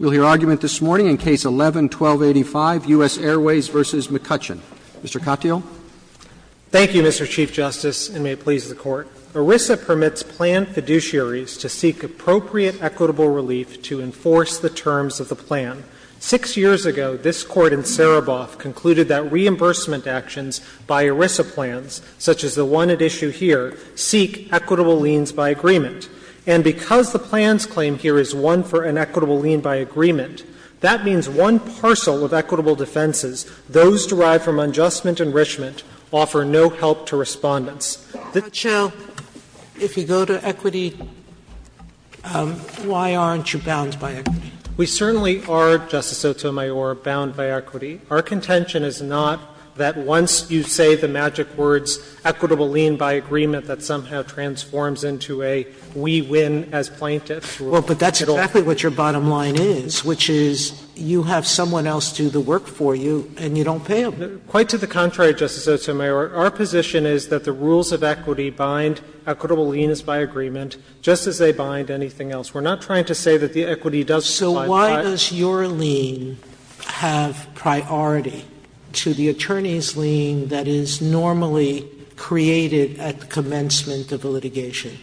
We'll hear argument this morning in Case 11-1285, U.S. Airways v. McCutchen. Mr. Katyal. Thank you, Mr. Chief Justice, and may it please the Court. ERISA permits plan fiduciaries to seek appropriate equitable relief to enforce the terms of the plan. Six years ago, this Court in Saraboff concluded that reimbursement actions by ERISA plans, such as the one at issue here, seek equitable liens by agreement. And because the plan's claim here is one for an equitable lien by agreement, that means one parcel of equitable defenses, those derived from adjustment and enrichment, offer no help to respondents. Mr. Katyal, if you go to equity, why aren't you bound by equity? We certainly are, Justice Sotomayor, bound by equity. Our contention is not that once you say the magic words, equitable lien by agreement, that somehow transforms into a we win as plaintiffs rule. Well, but that's exactly what your bottom line is, which is you have someone else do the work for you and you don't pay them. Quite to the contrary, Justice Sotomayor. Our position is that the rules of equity bind equitable liens by agreement just as they bind anything else. Sotomayor, so why does your lien have priority to the attorney's lien that is normally created at commencement of the litigation?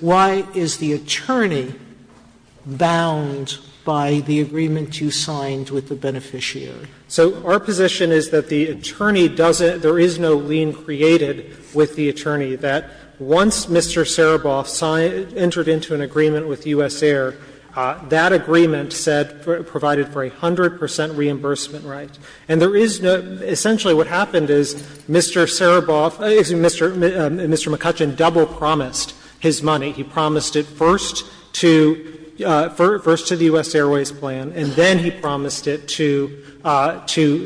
Why is the attorney bound by the agreement you signed with the beneficiary? So our position is that the attorney doesn't – there is no lien created with the attorney that once Mr. Sereboff entered into an agreement with U.S. Air, that agreement said provided for a 100 percent reimbursement right. And there is no – essentially what happened is Mr. Sereboff – excuse me, Mr. McCutcheon double promised his money. He promised it first to the U.S. Airways plan, and then he promised it to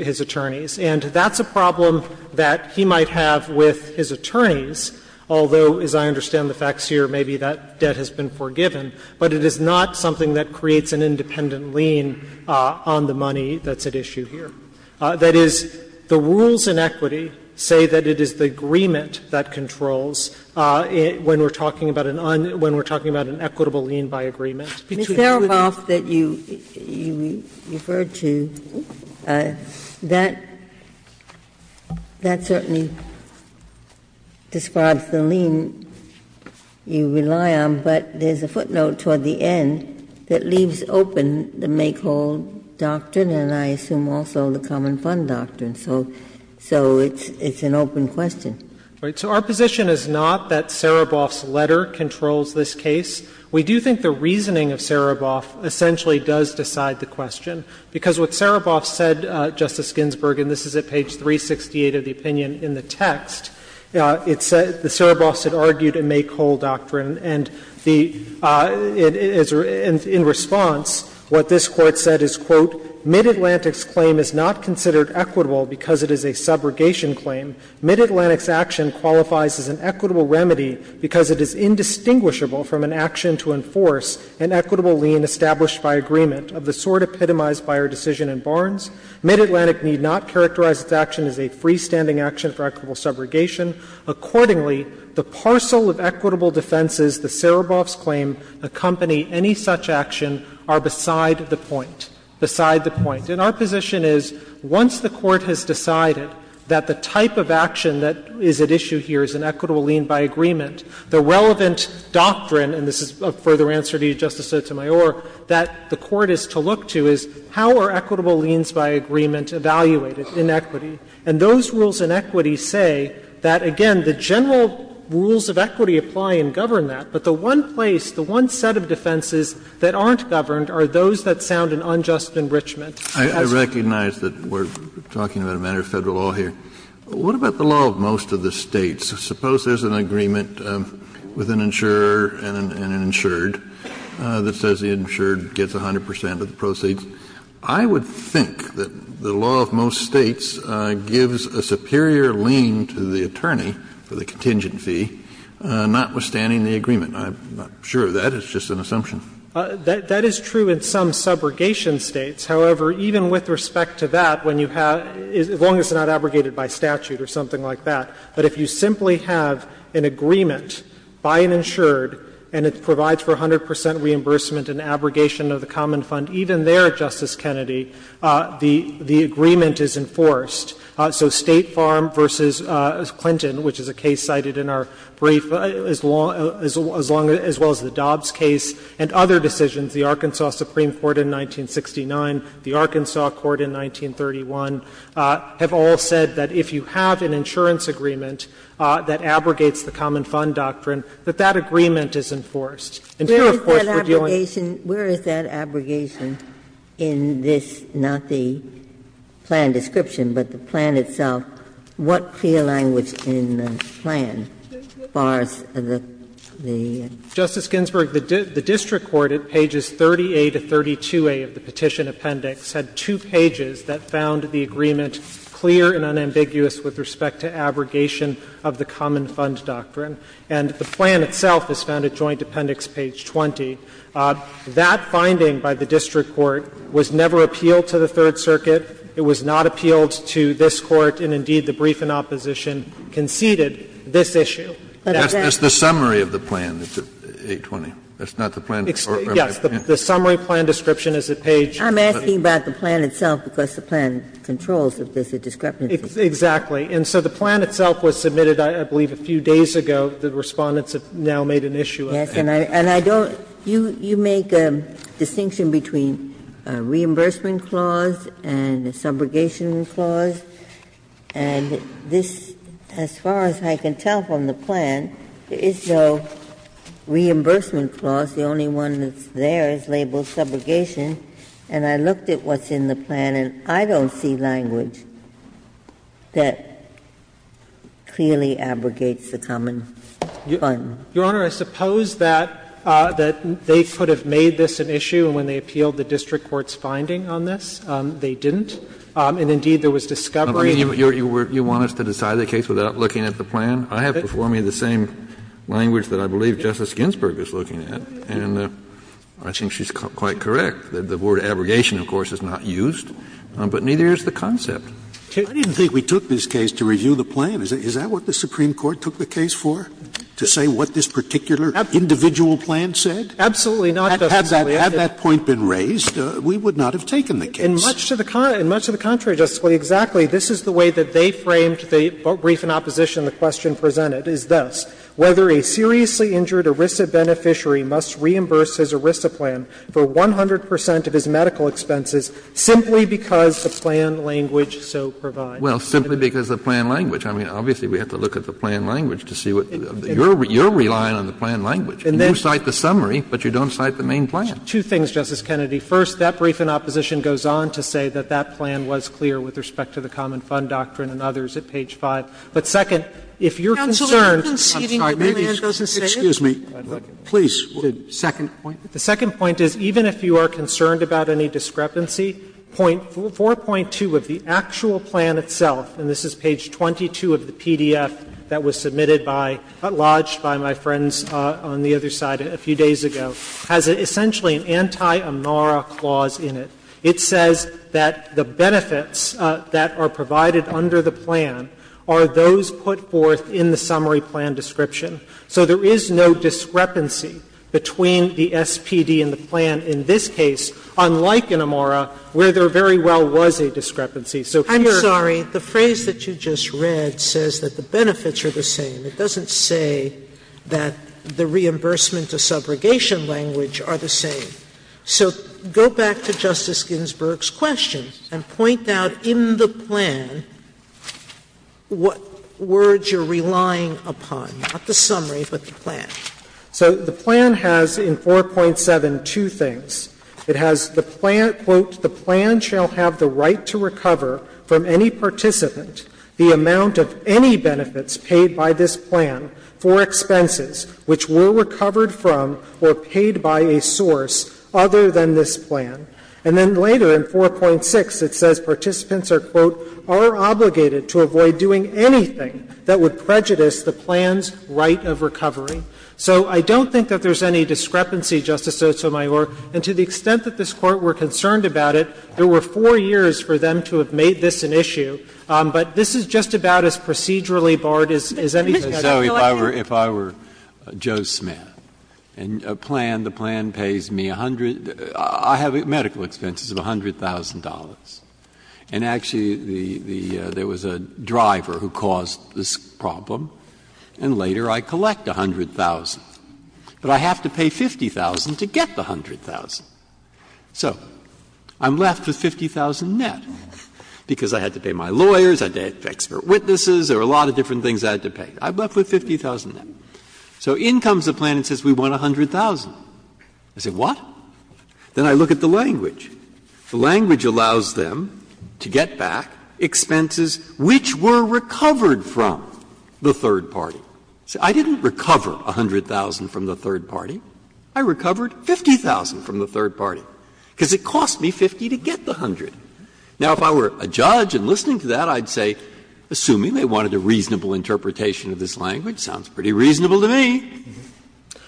his attorneys. And that's a problem that he might have with his attorneys, although as I understand the facts here, maybe that debt has been forgiven, but it is not something that creates an independent lien on the money that's at issue here. That is, the rules in equity say that it is the agreement that controls when we're talking about an un – when we're talking about an equitable lien by agreement. Ginsburg. Ms. Sereboff that you referred to, that certainly describes the lien you rely on, but there's a footnote toward the end that leaves open the make-whole doctrine and I assume also the common fund doctrine, so it's an open question. So our position is not that Sereboff's letter controls this case. We do think the reasoning of Sereboff essentially does decide the question, because what Sereboff said, Justice Ginsburg, and this is at page 368 of the opinion in the text, it said the Sereboffs had argued a make-whole doctrine, and the – in response, what this Court said is, quote, "'Mid-Atlantic's' claim is not considered equitable because it is a subrogation claim. Mid-Atlantic's action qualifies as an equitable remedy because it is indistinguishable from an action to enforce an equitable lien established by agreement, of the sort epitomized by our decision in Barnes. Mid-Atlantic need not characterize its action as a freestanding action for equitable subrogation. Accordingly, the parcel of equitable defenses the Sereboffs claim accompany any such action are beside the point. Beside the point. And our position is, once the Court has decided that the type of action that is at issue here is an equitable lien by agreement, the relevant doctrine, and this is a further answer to you, Justice Sotomayor, that the Court is to look to is, how are equitable liens by agreement evaluated in equity? And those rules in equity say that, again, the general rules of equity apply and govern that, but the one place, the one set of defenses that aren't governed are those that sound an unjust enrichment. Kennedy. Kennedy. I recognize that we're talking about a matter of Federal law here. What about the law of most of the States? Suppose there's an agreement with an insurer and an insured that says the insured gets 100 percent of the proceeds. I would think that the law of most States gives a superior lien to the attorney for the contingent fee, notwithstanding the agreement. I'm not sure of that. It's just an assumption. That is true in some subrogation States. However, even with respect to that, when you have — as long as it's not abrogated by statute or something like that. But if you simply have an agreement by an insured and it provides for 100 percent reimbursement and abrogation of the common fund, even there, Justice Kennedy, the agreement is enforced. So State Farm v. Clinton, which is a case cited in our brief, as long — as well as the Dobbs case and other decisions, the Arkansas Supreme Court in 1969, the Arkansas Court in 1931, have all said that if you have an insurance agreement that abrogates the common fund doctrine, that that agreement is enforced. And here, of course, we're dealing— Ginsburg. Where is that abrogation in this, not the plan description, but the plan itself? What clear language in the plan, as far as the— Justice Ginsburg, the district court at pages 30A to 32A of the petition appendix had two pages that found the agreement clear and unambiguous with respect to abrogation of the common fund doctrine. And the plan itself is found at joint appendix page 20. That finding by the district court was never appealed to the Third Circuit. It was not appealed to this Court. And indeed, the brief in opposition conceded this issue. Kennedy, that's the summary of the plan, page 20. That's not the plan description. Yes. The summary plan description is at page— I'm asking about the plan itself, because the plan controls if there's a description of the plan. Exactly. And so the plan itself was submitted, I believe, a few days ago. The Respondents have now made an issue of it. Yes. And I don't — you make a distinction between a reimbursement clause and a subrogation clause. And this, as far as I can tell from the plan, is no reimbursement clause. The only one that's there is labeled subrogation. And I looked at what's in the plan, and I don't see language that clearly abrogates the common fund. Your Honor, I suppose that they could have made this an issue when they appealed the district court's finding on this. They didn't. And, indeed, there was discovery— You want us to decide the case without looking at the plan? I have before me the same language that I believe Justice Ginsburg is looking at. And I think she's quite correct. The word abrogation, of course, is not used, but neither is the concept. I didn't think we took this case to review the plan. Is that what the Supreme Court took the case for, to say what this particular individual plan said? Had that point been raised, we would not have taken the case. In much to the contrary, Justice Scalia, exactly. This is the way that they framed the brief in opposition, the question presented, is this. Whether a seriously injured ERISA beneficiary must reimburse his ERISA plan for 100 percent of his medical expenses simply because the plan language so provides. Well, simply because the plan language. I mean, obviously, we have to look at the plan language to see what you're relying on the plan language. You cite the summary, but you don't cite the main plan. Two things, Justice Kennedy. First, that brief in opposition goes on to say that that plan was clear with respect to the common fund doctrine and others at page 5. But second, if you're concerned. I'm sorry. Excuse me. Please. The second point. The second point is, even if you are concerned about any discrepancy, 4.2 of the actual plan itself, and this is page 22 of the PDF that was submitted by, lodged by my friends on the other side a few days ago, has essentially an anti-Amara clause in it. It says that the benefits that are provided under the plan are those put forth in the summary plan description. So there is no discrepancy between the SPD and the plan in this case, unlike in Amara, where there very well was a discrepancy. So here's your point. I'm sorry. The phrase that you just read says that the benefits are the same. It doesn't say that the reimbursement of subrogation language are the same. So go back to Justice Ginsburg's question and point out in the plan what words you're relying upon, not the summary, but the plan. So the plan has in 4.7 two things. It has the plan, quote, So I don't think that there's any discrepancy, Justice Sotomayor, and to the extent that this Court were concerned about it, there were four years for them to have made this an issue, but this is just about as procedurally barred as any of the other So if I were Joe Smith and a plan, the plan pays me a hundred — I have medical expenses of $100,000, and actually the — there was a driver who caused this problem, and later I collect $100,000, but I have to pay $50,000 to get the $100,000. So I'm left with $50,000 net, because I had to pay my lawyers, I had to pay my witnesses, there were a lot of different things I had to pay. I'm left with $50,000 net. So in comes the plan and says we want $100,000. I say, what? Then I look at the language. The language allows them to get back expenses which were recovered from the third party. I didn't recover $100,000 from the third party. I recovered $50,000 from the third party, because it cost me $50,000 to get the $100,000. Now, if I were a judge and listening to that, I would say, assuming they wanted a reasonable interpretation of this language, sounds pretty reasonable to me.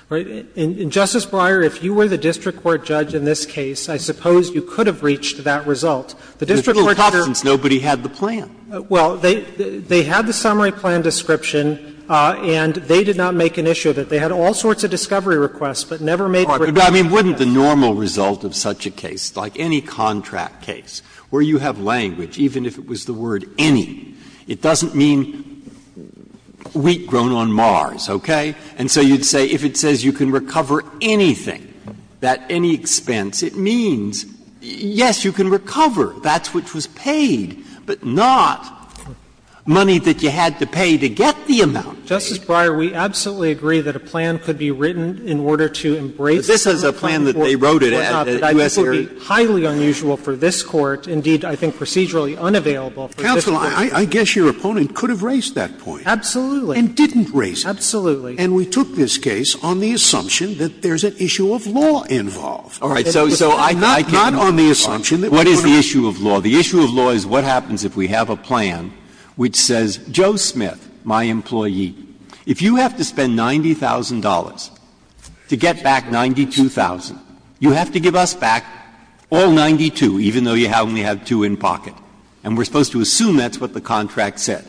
Katyalin. In Justice Breyer, if you were the district court judge in this case, I suppose you could have reached that result. The district court judge or the district court judge. Breyer, since nobody had the plan. Well, they had the summary plan description, and they did not make an issue of it. They had all sorts of discovery requests, but never made a request to the district court judge. But, I mean, wouldn't the normal result of such a case, like any contract case, where you have language, even if it was the word any, it doesn't mean wheat grown on Mars, okay? And so you'd say, if it says you can recover anything at any expense, it means, yes, you can recover. That's what was paid, but not money that you had to pay to get the amount paid. Justice Breyer, we absolutely agree that a plan could be written in order to embrace the plan. But this is a plan that they wrote it at, at U.S. Air Force. So it's a plan that's not going to be widely available, and it's going to be highly unusual for this Court, indeed, I think procedurally unavailable for this Court. Counsel, I guess your opponent could have raised that point. Absolutely. And didn't raise it. Absolutely. And we took this case on the assumption that there's an issue of law involved. All right. So I came off the assumption that we're not going to- So not on the assumption that we're not going to- What is the issue of law? The issue of law is what happens if we have a plan which says, Joe Smith, my employee, if you have to spend $90,000 to get back $92,000, you have to give us back all 92, even though you only have two in pocket. And we're supposed to assume that's what the contract said.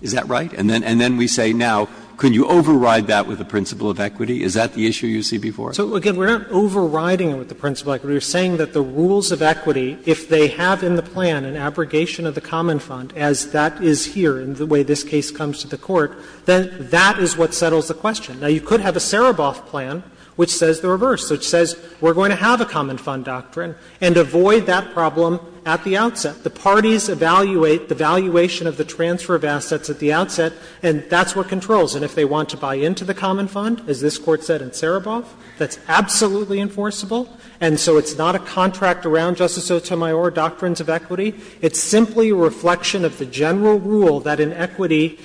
Is that right? And then we say, now, can you override that with the principle of equity? Is that the issue you see before us? So, again, we aren't overriding it with the principle of equity. We're saying that the rules of equity, if they have in the plan an abrogation of the common fund, as that is here in the way this case comes to the Court, then that is what settles the question. Now, you could have a Sereboff plan which says the reverse, which says we're going to have a common fund doctrine and avoid that problem at the outset. The parties evaluate the valuation of the transfer of assets at the outset, and that's what controls. And if they want to buy into the common fund, as this Court said in Sereboff, that's absolutely enforceable. And so it's not a contract around, Justice Sotomayor, doctrines of equity. It's simply a reflection of the general rule that in equity,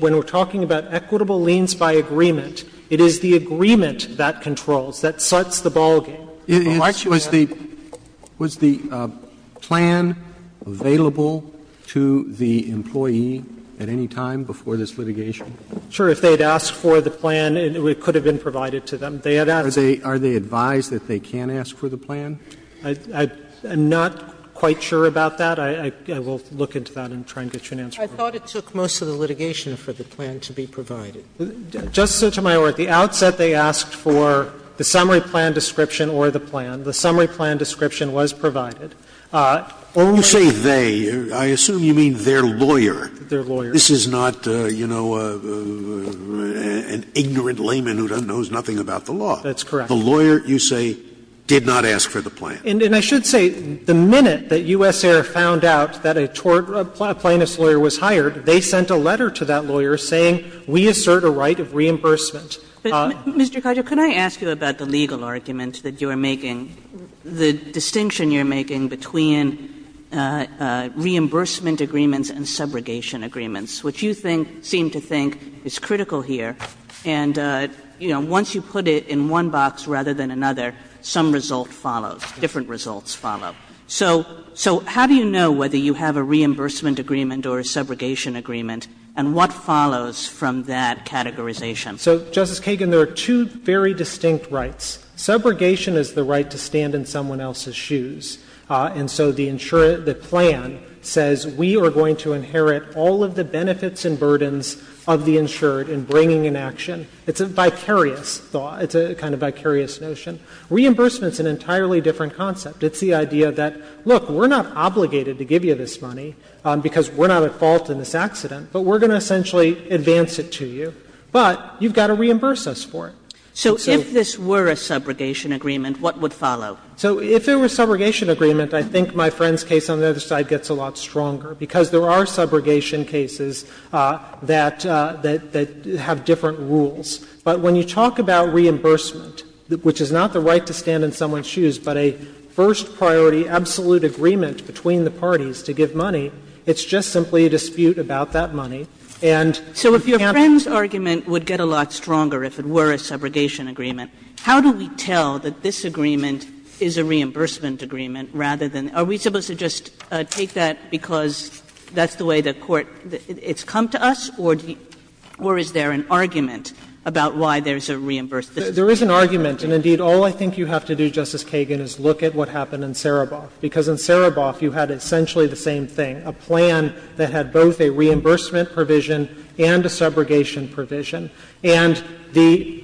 when we're talking about equitable liens by agreement, it is the agreement that controls, that sets the ball game. The right to have it. Roberts, was the plan available to the employee at any time before this litigation? Sure. If they had asked for the plan, it could have been provided to them. They had asked. Are they advised that they can ask for the plan? I'm not quite sure about that. I will look into that and try and get you an answer. I thought it took most of the litigation for the plan to be provided. Justice Sotomayor, at the outset they asked for the summary plan description or the plan. The summary plan description was provided. Only the lawyer. You say they. I assume you mean their lawyer. Their lawyer. This is not, you know, an ignorant layman who knows nothing about the law. That's correct. The lawyer, you say, did not ask for the plan. And I should say, the minute that US Air found out that a tort plaintiff's lawyer was hired, they sent a letter to that lawyer saying, we assert a right of reimbursement. Mr. Kagan, could I ask you about the legal argument that you are making, the distinction you're making between reimbursement agreements and subrogation agreements, which you think, seem to think is critical here. And, you know, once you put it in one box rather than another, some result follows. Different results follow. So how do you know whether you have a reimbursement agreement or a subrogation agreement, and what follows from that categorization? So, Justice Kagan, there are two very distinct rights. Subrogation is the right to stand in someone else's shoes. And so the plan says, we are going to inherit all of the benefits and burdens of the insured in bringing an action. It's a vicarious thought. It's a kind of vicarious notion. Reimbursement is an entirely different concept. It's the idea that, look, we're not obligated to give you this money because we're not at fault in this accident, but we're going to essentially advance it to you. But you've got to reimburse us for it. So if this were a subrogation agreement, what would follow? So if it were a subrogation agreement, I think my friend's case on the other side gets a lot stronger, because there are subrogation cases that have different rules. But when you talk about reimbursement, which is not the right to stand in someone's shoes, but a first priority absolute agreement between the parties to give money, it's just simply a dispute about that money. Kagan, do you take that because that's the way the Court has come to us, or is there an argument about why there's a reimbursement? There is an argument. And, indeed, all I think you have to do, Justice Kagan, is look at what happened in Sereboff, because in Sereboff you had essentially the same thing, a plan that had both a reimbursement provision and a subrogation provision. And the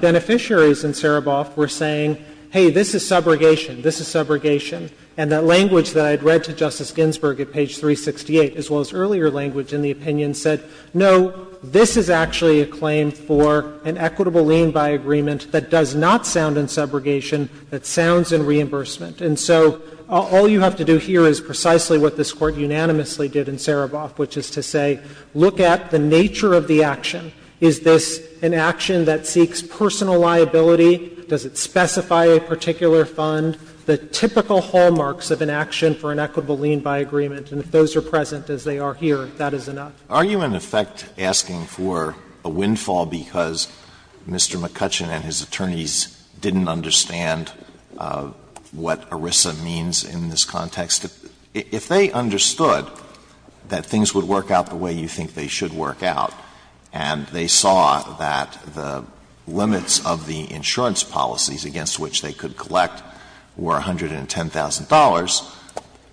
beneficiaries in Sereboff were saying, hey, this is subrogation, this is subrogation. And that language that I had read to Justice Ginsburg at page 368, as well as earlier language in the opinion, said, no, this is actually a claim for an equitable lien by agreement that does not sound in subrogation, that sounds in reimbursement. And so all you have to do here is precisely what this Court unanimously did in Sereboff, which is to say, look at the nature of the action. Is this an action that seeks personal liability? Does it specify a particular fund? The typical hallmarks of an action for an equitable lien by agreement, and if those are present as they are here, that is enough. Alitoso, are you in effect asking for a windfall because Mr. McCutcheon and his attorneys didn't understand what ERISA means in this context? If they understood that things would work out the way you think they should work out, and they saw that the limits of the insurance policies against which they could collect were $110,000,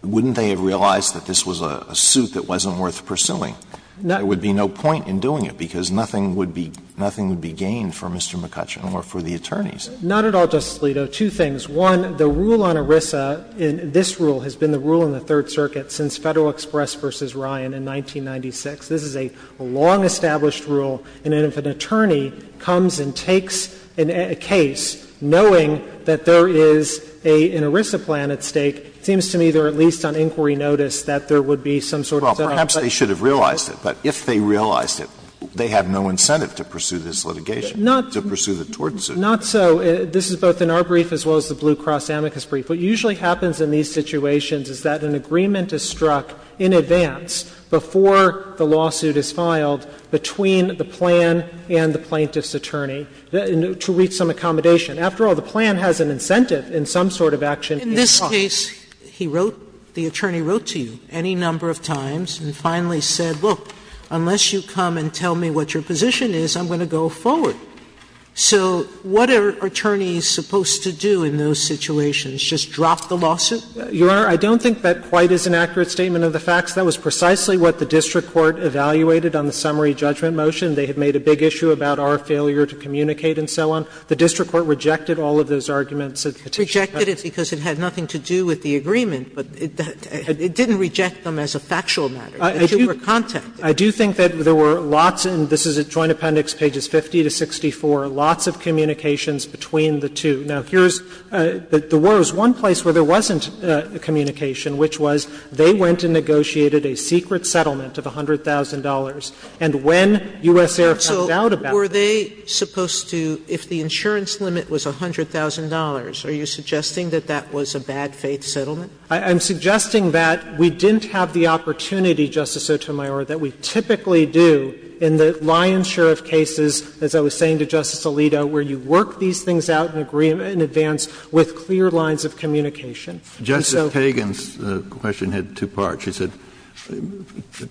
wouldn't they have realized that this was a suit that wasn't worth pursuing? There would be no point in doing it because nothing would be gained for Mr. McCutcheon or for the attorneys. Not at all, Justice Alito. Two things. One, the rule on ERISA, this rule has been the rule in the Third Circuit since Federal Express v. Ryan in 1996. This is a long-established rule, and if an attorney comes and takes a case knowing that there is an ERISA plan at stake, it seems to me they are at least on inquiry notice that there would be some sort of debt. Well, perhaps they should have realized it, but if they realized it, they have no incentive to pursue this litigation. Not so, this is both in our brief as well as the Blue Cross-Amicus brief. What usually happens in these situations is that an agreement is struck in advance before the lawsuit is filed between the plan and the plaintiff's attorney to reach some accommodation. After all, the plan has an incentive in some sort of action. Sotomayor, in this case, he wrote, the attorney wrote to you any number of times and finally said, look, unless you come and tell me what your position is, I'm going to go forward. So what are attorneys supposed to do in those situations, just drop the lawsuit? Your Honor, I don't think that quite is an accurate statement of the facts. That was precisely what the district court evaluated on the summary judgment motion. They had made a big issue about our failure to communicate and so on. The district court rejected all of those arguments at the Petition Court. Sotomayor, because it had nothing to do with the agreement, but it didn't reject them as a factual matter. They were contacted. I do think that there were lots, and this is at Joint Appendix pages 50 to 64, lots of communications between the two. Now, here's the worst. One place where there wasn't communication, which was they went and negotiated a secret settlement of $100,000, and when U.S. Air found out about it. Sotomayor, were they supposed to, if the insurance limit was $100,000, are you suggesting that that was a bad faith settlement? I'm suggesting that we didn't have the opportunity, Justice Sotomayor, that we typically do in the lion's share of cases, as I was saying to Justice Alito, where you work these things out in advance with clear lines of communication. And so. Kennedy, Justice Kagan's question had two parts. She said,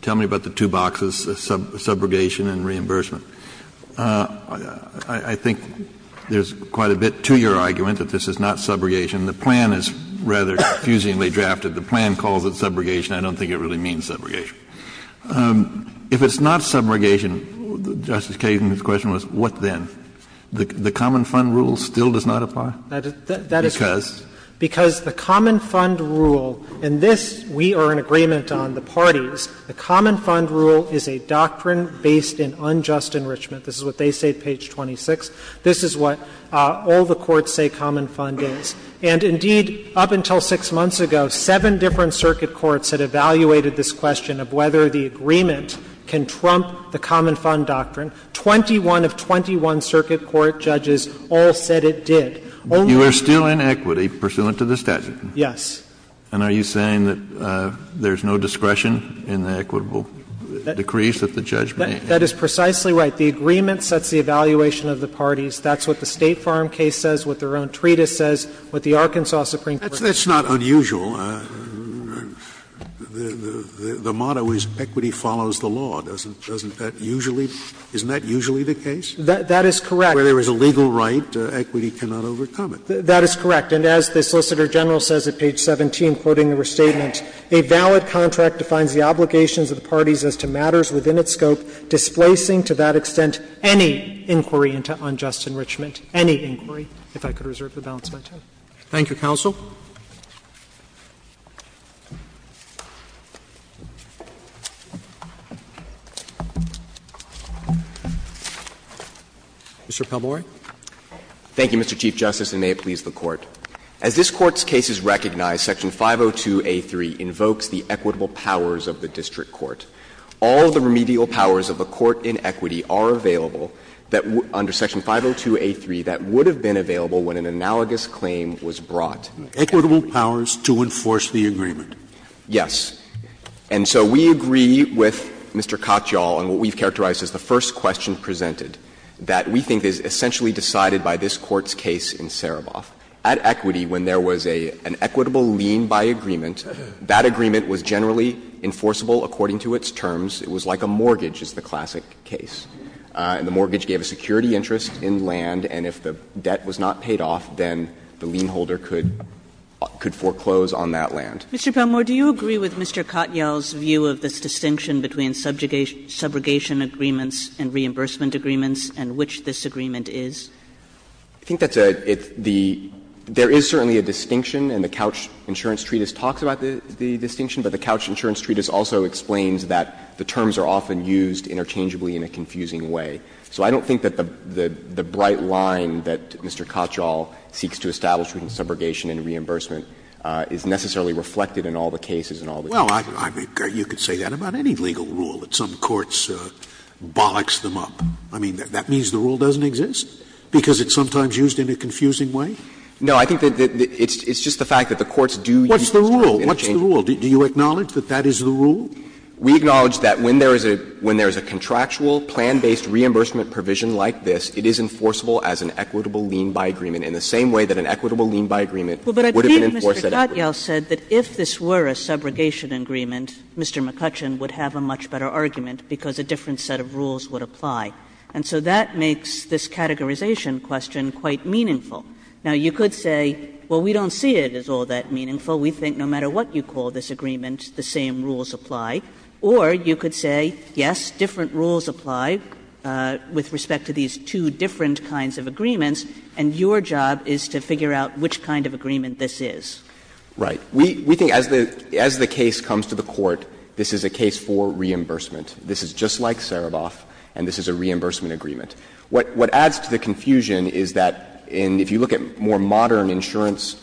tell me about the two boxes, subrogation and reimbursement. I think there's quite a bit to your argument that this is not subrogation. The plan is rather confusingly drafted. The plan calls it subrogation. I don't think it really means subrogation. If it's not subrogation, Justice Kagan's question was, what then? The common fund rule still does not apply? Because? Because the common fund rule, and this we are in agreement on the parties, the common fund rule does not apply to the cost enrichment. This is what they say at page 26. This is what all the courts say common fund is. And indeed, up until six months ago, seven different circuit courts had evaluated this question of whether the agreement can trump the common fund doctrine. Twenty-one of twenty-one circuit court judges all said it did. Only. Kennedy, you are still in equity pursuant to the statute. Yes. And are you saying that there's no discretion in the equitable decrees that the judge made? That is precisely right. The agreement sets the evaluation of the parties. That's what the State Farm case says, what their own treatise says, what the Arkansas Supreme Court says. That's not unusual. The motto is equity follows the law. Doesn't that usually be? Isn't that usually the case? That is correct. Where there is a legal right, equity cannot overcome it. That is correct. And as the Solicitor General says at page 17, quoting the restatement, a valid contract defines the obligations of the parties as to matters within its scope, displacing to that extent any inquiry into unjust enrichment, any inquiry. If I could reserve the balance of my time. Roberts. Thank you, counsel. Mr. Palmore. Thank you, Mr. Chief Justice, and may it please the Court. As this Court's case is recognized, section 502a3 invokes the equitable powers of the district court. All the remedial powers of the court in equity are available that under section 502a3 that would have been available when an analogous claim was brought. Equitable powers to enforce the agreement. Yes. And so we agree with Mr. Katyal on what we've characterized as the first question presented, that we think is essentially decided by this Court's case in Saraboff. At equity, when there was an equitable lien by agreement, that agreement was generally enforceable according to its terms. It was like a mortgage is the classic case. And the mortgage gave a security interest in land, and if the debt was not paid off, then the lien holder could foreclose on that land. Mr. Palmore, do you agree with Mr. Katyal's view of this distinction between subjugation agreements and reimbursement agreements and which this agreement is? I think that's a — there is certainly a distinction, and the Couch Insurance Treatise talks about the distinction, but the Couch Insurance Treatise also explains that the terms are often used interchangeably in a confusing way. So I don't think that the bright line that Mr. Katyal seeks to establish between subjugation and reimbursement is necessarily reflected in all the cases and all the cases. Scalia. Well, I mean, you could say that about any legal rule, that some courts bollocks them up. I mean, that means the rule doesn't exist. Because it's sometimes used in a confusing way? No, I think that it's just the fact that the courts do use terms interchangeably. What's the rule? What's the rule? Do you acknowledge that that is the rule? We acknowledge that when there is a — when there is a contractual, plan-based reimbursement provision like this, it is enforceable as an equitable lien by agreement in the same way that an equitable lien by agreement would have been enforced at every point. But I think Mr. Katyal said that if this were a subjugation agreement, Mr. McCutcheon would have a much better argument because a different set of rules would apply. And so that makes this categorization question quite meaningful. Now, you could say, well, we don't see it as all that meaningful. We think no matter what you call this agreement, the same rules apply. Or you could say, yes, different rules apply with respect to these two different kinds of agreements, and your job is to figure out which kind of agreement this is. Right. We think as the case comes to the Court, this is a case for reimbursement. This is just like Sereboff, and this is a reimbursement agreement. What adds to the confusion is that in — if you look at more modern insurance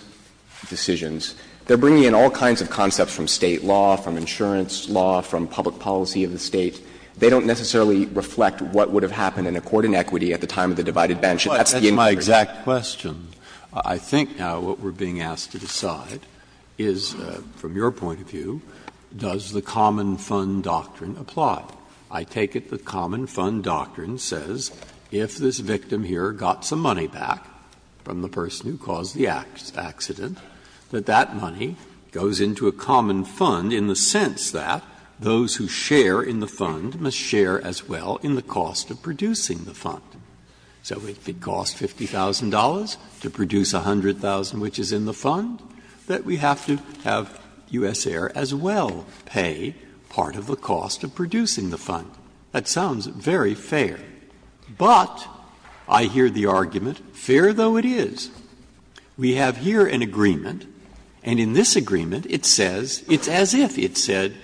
decisions, they are bringing in all kinds of concepts from State law, from insurance law, from public policy of the State. They don't necessarily reflect what would have happened in a court in equity at the time of the divided bench, and that's the inquiry. Breyer. That's my exact question. I think now what we are being asked to decide is, from your point of view, does the common fund doctrine apply? I take it the common fund doctrine says if this victim here got some money back from the person who caused the accident, that that money goes into a common fund in the sense that those who share in the fund must share as well in the cost of producing the fund. So if it costs $50,000 to produce 100,000, which is in the fund, that we have to have U.S. Air as well pay part of the cost of producing the fund. That sounds very fair. But I hear the argument, fair though it is, we have here an agreement, and in this agreement it says, it's as if it said,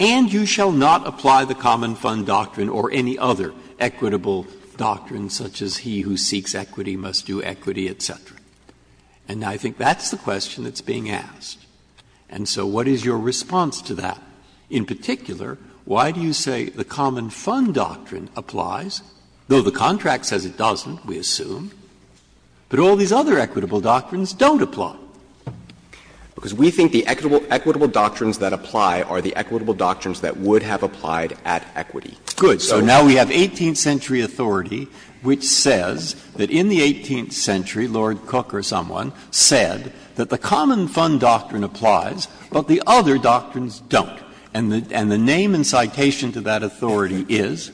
and you shall not apply the common fund doctrine or any other equitable doctrine such as he who seeks equity must do equity, et cetera. And I think that's the question that's being asked. And so what is your response to that? In particular, why do you say the common fund doctrine applies, though the contract says it doesn't, we assume, but all these other equitable doctrines don't apply? Because we think the equitable doctrines that apply are the equitable doctrines that would have applied at equity. Good. So now we have 18th century authority which says that in the 18th century, Lord Cook or someone said that the common fund doctrine applies, but the other doctrines don't. And the name and citation to that authority is?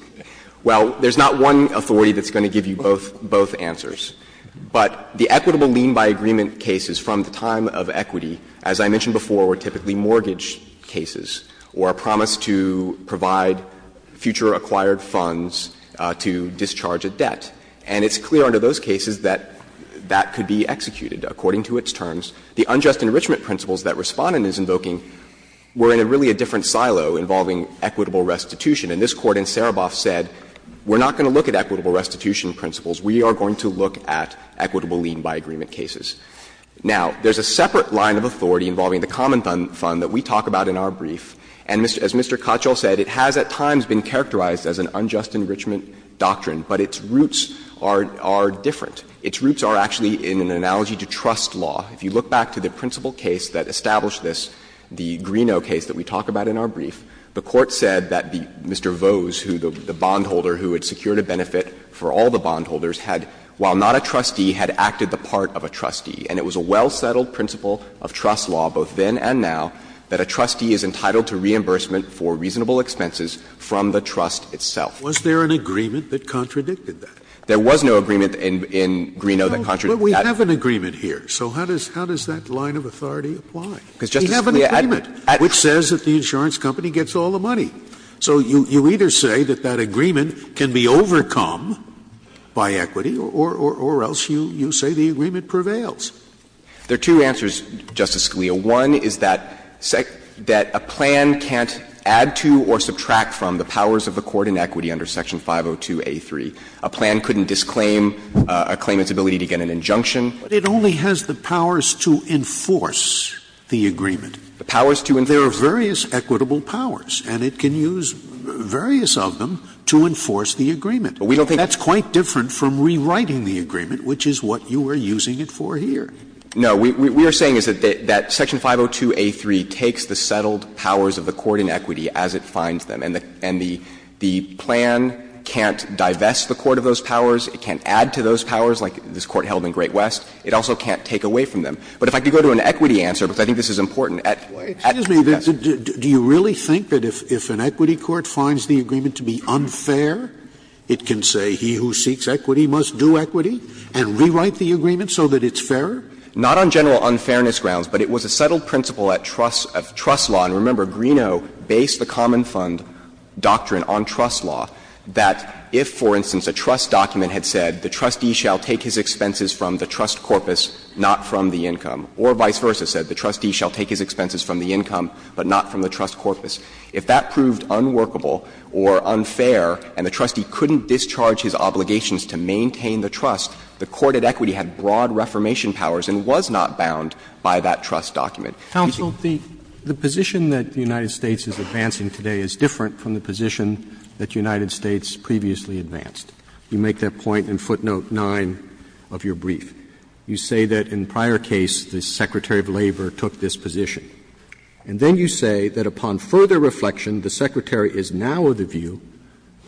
Well, there's not one authority that's going to give you both answers. But the equitable lien by agreement cases from the time of equity, as I mentioned before, were typically mortgage cases or a promise to provide future acquired funds to discharge a debt. And it's clear under those cases that that could be executed according to its terms. The unjust enrichment principles that Respondent is invoking were in a really different silo involving equitable restitution. And this Court in Sereboff said, we're not going to look at equitable restitution principles. We are going to look at equitable lien by agreement cases. Now, there's a separate line of authority involving the common fund that we talk about in our brief. And as Mr. Cottrell said, it has at times been characterized as an unjust enrichment doctrine, but its roots are different. Its roots are actually in an analogy to trust law. If you look back to the principal case that established this, the Greeno case that we talk about in our brief, the Court said that Mr. Vose, who the bondholder who had secured a benefit for all the bondholders, had, while not a trustee, had acted the part of a trustee. And it was a well-settled principle of trust law, both then and now, that a trustee is entitled to reimbursement for reasonable expenses from the trust itself. Scalia, was there an agreement that contradicted that? There was no agreement in Greeno that contradicted that. No, but we have an agreement here, so how does that line of authority apply? We have an agreement, which says that the insurance company gets all the money. So you either say that that agreement can be overcome by equity, or else you say the agreement prevails. There are two answers, Justice Scalia. One is that a plan can't add to or subtract from the powers of a court in equity under Section 502A3. A plan couldn't disclaim a claimant's ability to get an injunction. But it only has the powers to enforce the agreement. The powers to enforce. There are various equitable powers, and it can use various of them to enforce the agreement. We don't think that's quite different from rewriting the agreement, which is what you are using it for here. No. We are saying is that Section 502A3 takes the settled powers of the court in equity as it finds them, and the plan can't divest the court of those powers, it can't add to those powers, like this Court held in Great West, it also can't take away from them. But if I could go to an equity answer, because I think this is important. Scalia. Do you really think that if an equity court finds the agreement to be unfair, it can say he who seeks equity must do equity and rewrite the agreement so that it's fairer? Not on general unfairness grounds, but it was a settled principle of trust law. And remember, Greeno based the common fund doctrine on trust law, that if, for instance, a trust document had said the trustee shall take his expenses from the trust corpus, not from the income, or vice versa, said the trustee shall take his expenses from the income, but not from the trust corpus, if that proved unworkable or unfair and the trustee couldn't discharge his obligations to maintain the trust, the court at equity had broad reformation powers and was not bound by that trust document. Thank you. Roberts. Roberts Counsel, the position that the United States is advancing today is different from the position that the United States previously advanced. You make that point in footnote 9 of your brief. You say that in prior case this Secretary of Labor took this position. And then you say that upon further reflection the Secretary is now of the view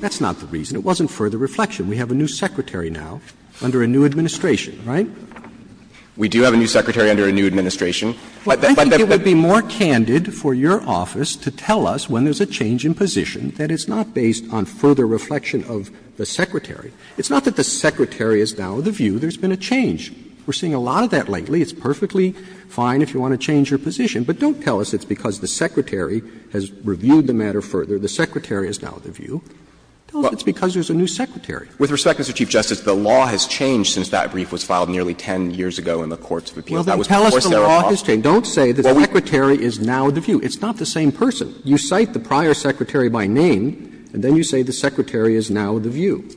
that's not the reason. It wasn't further reflection. We have a new Secretary now under a new administration. Right? We do have a new Secretary under a new administration. But that's the point. Roberts I think it would be more candid for your office to tell us when there's a change in position that it's not based on further reflection of the Secretary. It's not that the Secretary is now of the view there's been a change. We're seeing a lot of that lately. It's perfectly fine if you want to change your position. But don't tell us it's because the Secretary has reviewed the matter further. The Secretary is now of the view. Tell us it's because there's a new Secretary. With respect, Mr. Chief Justice, the law has changed since that brief was filed nearly 10 years ago in the courts of appeals. That was before Sarah Paulson. Don't say the Secretary is now of the view. It's not the same person. You cite the prior Secretary by name, and then you say the Secretary is now of the view.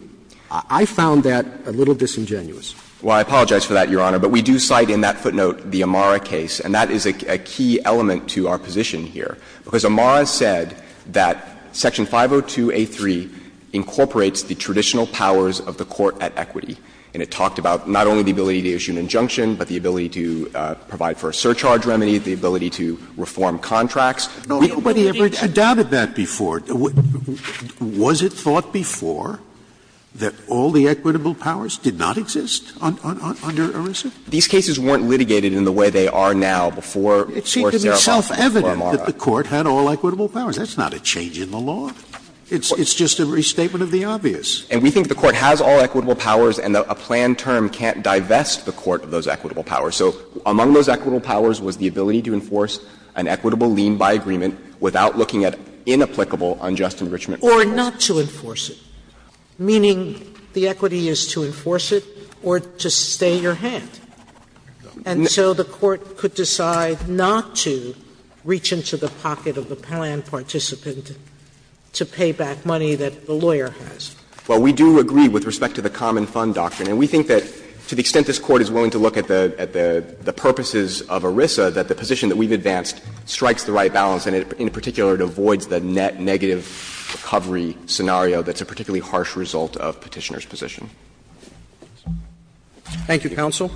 I found that a little disingenuous. Well, I apologize for that, Your Honor. But we do cite in that footnote the Amara case, and that is a key element to our position here, because Amara said that section 502A3 incorporates the traditional powers of the court at equity. And it talked about not only the ability to issue an injunction, but the ability to provide for a surcharge remedy, the ability to reform contracts. Nobody ever doubted that before. Was it thought before that all the equitable powers did not exist under ERISA? These cases weren't litigated in the way they are now before Sarah Paulson, before Amara. It seemed to be self-evident that the court had all equitable powers. That's not a change in the law. It's just a restatement of the obvious. And we think the court has all equitable powers, and a planned term can't divest the court of those equitable powers. So among those equitable powers was the ability to enforce an equitable lien by agreement without looking at inapplicable unjust enrichment. Or not to enforce it, meaning the equity is to enforce it or to stay your hand. And so the court could decide not to reach into the pocket of the planned participant to pay back money that the lawyer has. Well, we do agree with respect to the common fund doctrine. And we think that to the extent this Court is willing to look at the purposes of ERISA, that the position that we've advanced strikes the right balance, and in particular, it avoids the net negative recovery scenario that's a particularly harsh result of Petitioner's position. Thank you, counsel.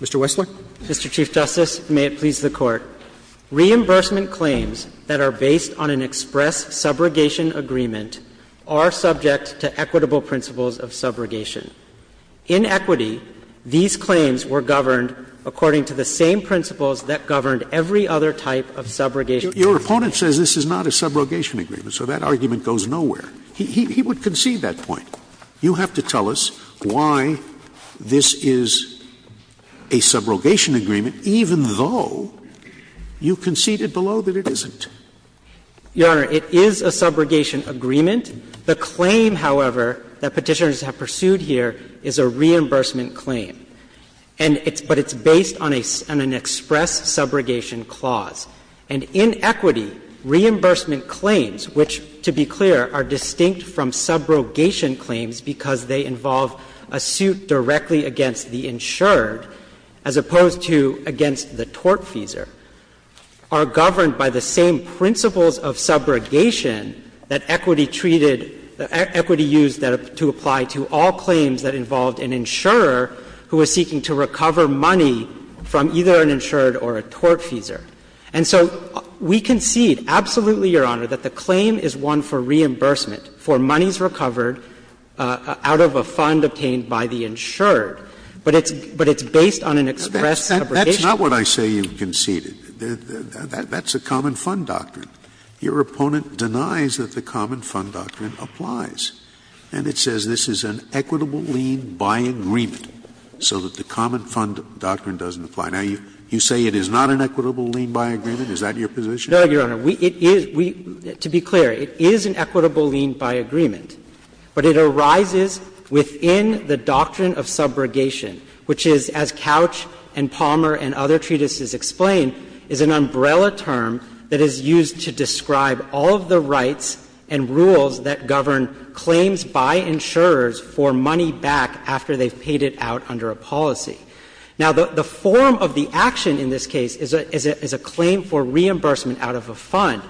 Mr. Wessler. Mr. Chief Justice, may it please the Court. Reimbursement claims that are based on an express subrogation agreement are subject to equitable principles of subrogation. In equity, these claims were governed according to the same principles that governed every other type of subrogation agreement. Your opponent says this is not a subrogation agreement, so that argument goes nowhere. He would concede that point. You have to tell us why this is a subrogation agreement, even though you conceded below that it isn't. Your Honor, it is a subrogation agreement. The claim, however, that Petitioners have pursued here is a reimbursement claim, and it's – but it's based on an express subrogation clause. And in equity, reimbursement claims, which, to be clear, are distinct from subrogation claims because they involve a suit directly against the insured as opposed to against the tortfeasor, are governed by the same principles of subrogation that equity treated – that equity used to apply to all claims that involved an insurer who was seeking to recover money from either an insured or a tortfeasor. And so we concede absolutely, Your Honor, that the claim is one for reimbursement for monies recovered out of a fund obtained by the insured, but it's – but it's based on an express subrogation. Scalia. That's not what I say you've conceded. That's a common fund doctrine. Your opponent denies that the common fund doctrine applies, and it says this is an equitable lien by agreement, so that the common fund doctrine doesn't apply. Now, you say it is not an equitable lien by agreement. Is that your position? No, Your Honor. We – it is – we – to be clear, it is an equitable lien by agreement, but it arises within the doctrine of subrogation, which is, as Couch and Palmer and other treatises explain, is an umbrella term that is used to describe all of the rights and rules that govern claims by insurers for money back after they've paid it out under a policy. Now, the form of the action in this case is a claim for reimbursement out of a fund.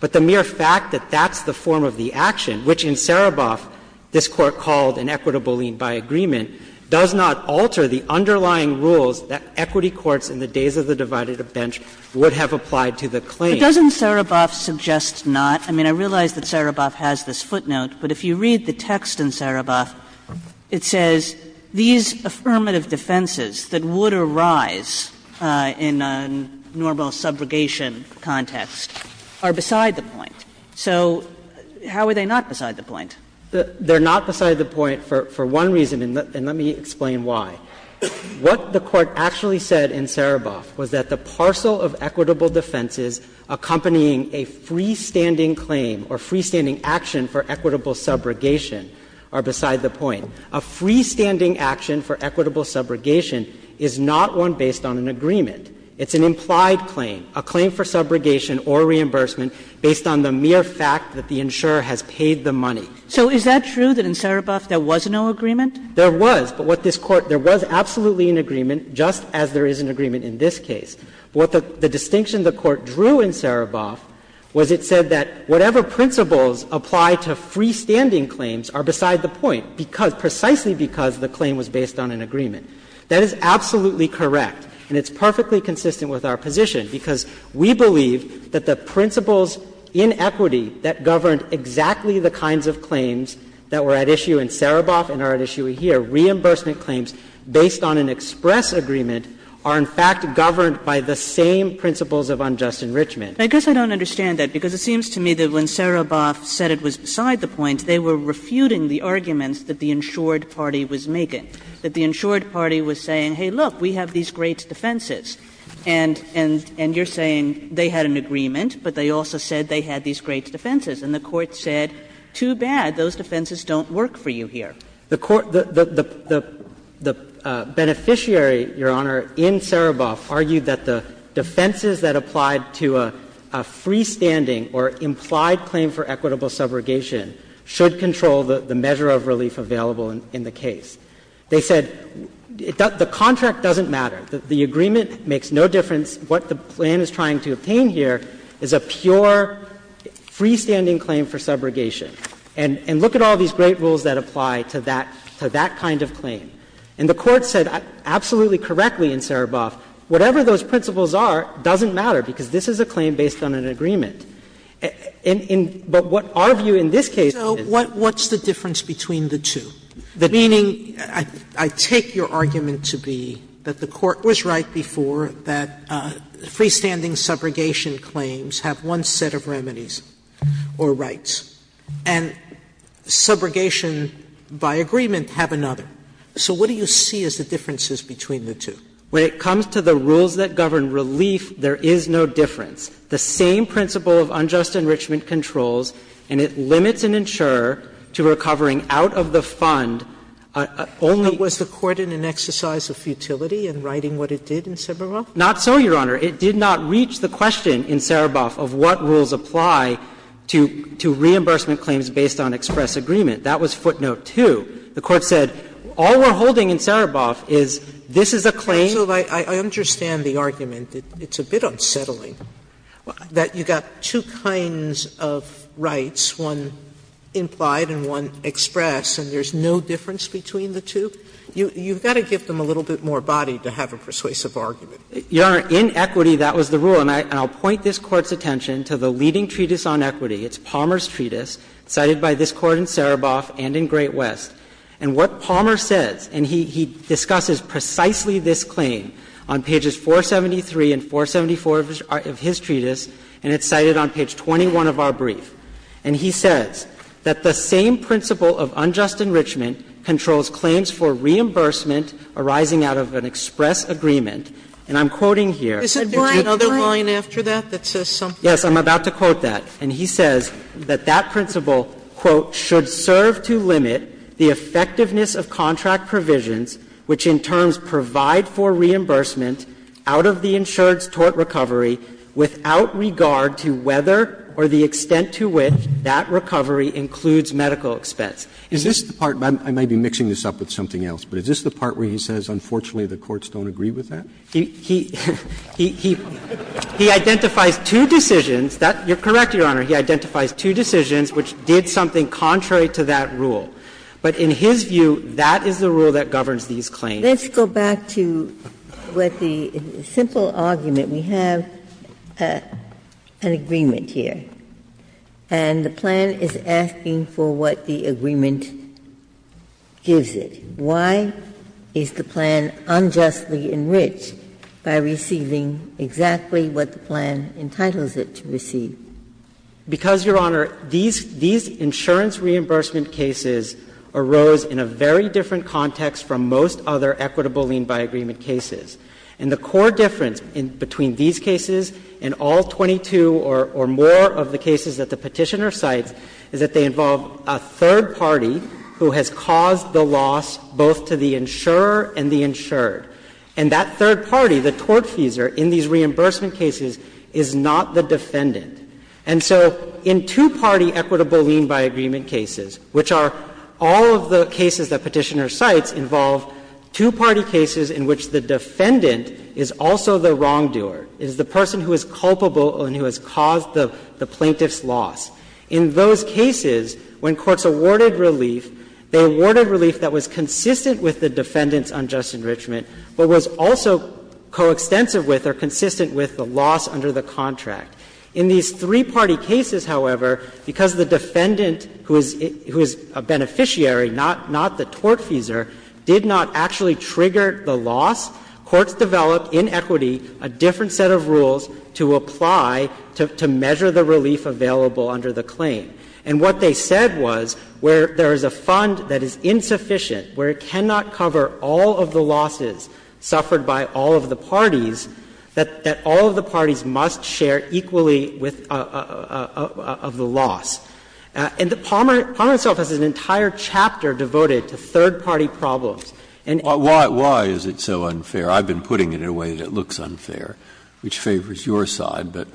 But the mere fact that that's the form of the action, which in Sereboff this Court called an equitable lien by agreement, does not alter the underlying rules that equity courts in the days of the divided bench would have applied to the claim. But doesn't Sereboff suggest not? I mean, I realize that Sereboff has this footnote, but if you read the text in Sereboff, it says these affirmative defenses that would arise in a normal subrogation context are beside the point. So how are they not beside the point? They're not beside the point for one reason, and let me explain why. What the Court actually said in Sereboff was that the parcel of equitable defenses accompanying a freestanding claim or freestanding action for equitable subrogation are beside the point. A freestanding action for equitable subrogation is not one based on an agreement. It's an implied claim, a claim for subrogation or reimbursement based on the mere fact that the insurer has paid the money. So is that true, that in Sereboff there was no agreement? There was, but what this Court – there was absolutely an agreement, just as there is an agreement in this case. But what the distinction the Court drew in Sereboff was it said that whatever principles apply to freestanding claims are beside the point, because – precisely because the claim was based on an agreement. That is absolutely correct, and it's perfectly consistent with our position, because we believe that the principles in equity that governed exactly the kinds of claims that were at issue in Sereboff and are at issue here, reimbursement claims based on an express agreement, are in fact governed by the same principles of unjust enrichment. Kagan. Kagan. I guess I don't understand that, because it seems to me that when Sereboff said it was beside the point, they were refuting the arguments that the insured party was making, that the insured party was saying, hey, look, we have these great defenses, and you're saying they had an agreement, but they also said they had these great defenses, and the Court said, too bad, those defenses don't work for you here. The Court – the beneficiary, Your Honor, in Sereboff argued that the defenses that applied to a freestanding or implied claim for equitable subrogation should control the measure of relief available in the case. They said the contract doesn't matter. The agreement makes no difference. What the plan is trying to obtain here is a pure freestanding claim for subrogation. And look at all these great rules that apply to that kind of claim. And the Court said absolutely correctly in Sereboff, whatever those principles are doesn't matter, because this is a claim based on an agreement. But what our view in this case is is that it doesn't matter. Sotomayor, what's the difference between the two? Meaning, I take your argument to be that the Court was right before that freestanding subrogation claims have one set of remedies or rights, and subrogation by agreement have another. So what do you see as the differences between the two? When it comes to the rules that govern relief, there is no difference. The same principle of unjust enrichment controls, and it limits and insure to recovering out of the fund only the court in an exercise of futility in writing what it did in Sereboff? Not so, Your Honor. It did not reach the question in Sereboff of what rules apply to reimbursement claims based on express agreement. That was footnote 2. The Court said, all we're holding in Sereboff is this is a claim. Sotomayor, I understand the argument. It's a bit unsettling that you've got two kinds of rights, one implied and one expressed, and there's no difference between the two. You've got to give them a little bit more body to have a persuasive argument. Your Honor, in equity, that was the rule. And I'll point this Court's attention to the leading treatise on equity, it's Palmer's And what Palmer says, and he discusses precisely this claim on pages 473 and 474 of his treatise, and it's cited on page 21 of our brief, and he says that the same principle of unjust enrichment controls claims for reimbursement arising out of an express agreement, and I'm quoting here. Sotomayor, did you have another line after that that says something? Yes, I'm about to quote that, and he says that that principle, quote, Is this the part, and I may be mixing this up with something else, but is this the part where he says, unfortunately, the courts don't agree with that? He identifies two decisions that, you're correct, Your Honor, he identifies two decisions which did something contrary to what the courts agreed to, and he says that the courts did something contrary to that rule, but in his view, that is the rule that governs these claims. Let's go back to what the simple argument, we have an agreement here, and the plan is asking for what the agreement gives it. Why is the plan unjustly enriched by receiving exactly what the plan entitles it to receive? Because, Your Honor, these insurance reimbursement cases arose in a very different context from most other equitable lien by agreement cases. And the core difference between these cases and all 22 or more of the cases that the Petitioner cites is that they involve a third party who has caused the loss both to the insurer and the insured. And that third party, the tortfeasor, in these reimbursement cases is not the defendant. And so in two-party equitable lien by agreement cases, which are all of the cases that Petitioner cites involve two-party cases in which the defendant is also the wrongdoer, is the person who is culpable and who has caused the plaintiff's loss. In those cases, when courts awarded relief, they awarded relief that was consistent with the defendant's unjust enrichment, but was also coextensive with or consistent with the loss under the contract. In these three-party cases, however, because the defendant, who is a beneficiary, not the tortfeasor, did not actually trigger the loss, courts developed in equity a different set of rules to apply, to measure the relief available under the claim. And what they said was where there is a fund that is insufficient, where it cannot cover all of the losses suffered by all of the parties, that all of the parties must share equally with the loss. And Palmer itself has an entire chapter devoted to third-party problems. Breyer, why is it so unfair? I've been putting it in a way that looks unfair, which favors your side, but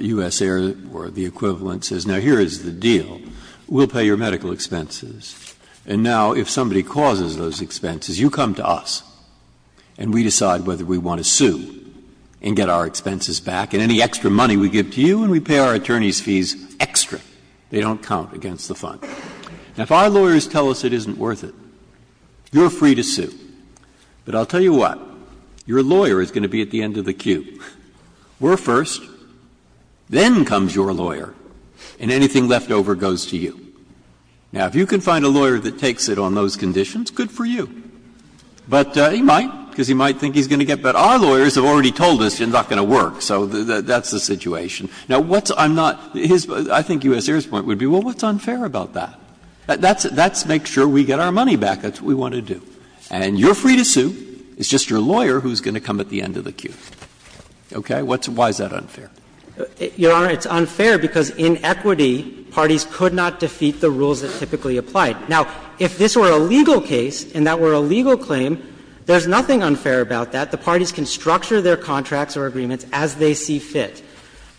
U.S. Air, or the equivalent, says now here is the deal. We'll pay your medical expenses, and now if somebody causes those expenses, you come to us, and we decide whether we want to sue and get our expenses back, and any extra money we give to you, and we pay our attorneys' fees extra. They don't count against the fund. Now, if our lawyers tell us it isn't worth it, you're free to sue. But I'll tell you what, your lawyer is going to be at the end of the queue. We're first, then comes your lawyer, and anything left over goes to you. Now, if you can find a lawyer that takes it on those conditions, good for you. But he might, because he might think he's going to get better. Our lawyers have already told us it's not going to work, so that's the situation. Now, what's unfair about that? That's make sure we get our money back. That's what we want to do. And you're free to sue. It's just your lawyer who's going to come at the end of the queue. Okay? Why is that unfair? Your Honor, it's unfair because in equity, parties could not defeat the rules that typically apply. Now, if this were a legal case and that were a legal claim, there's nothing unfair about that. The parties can structure their contracts or agreements as they see fit.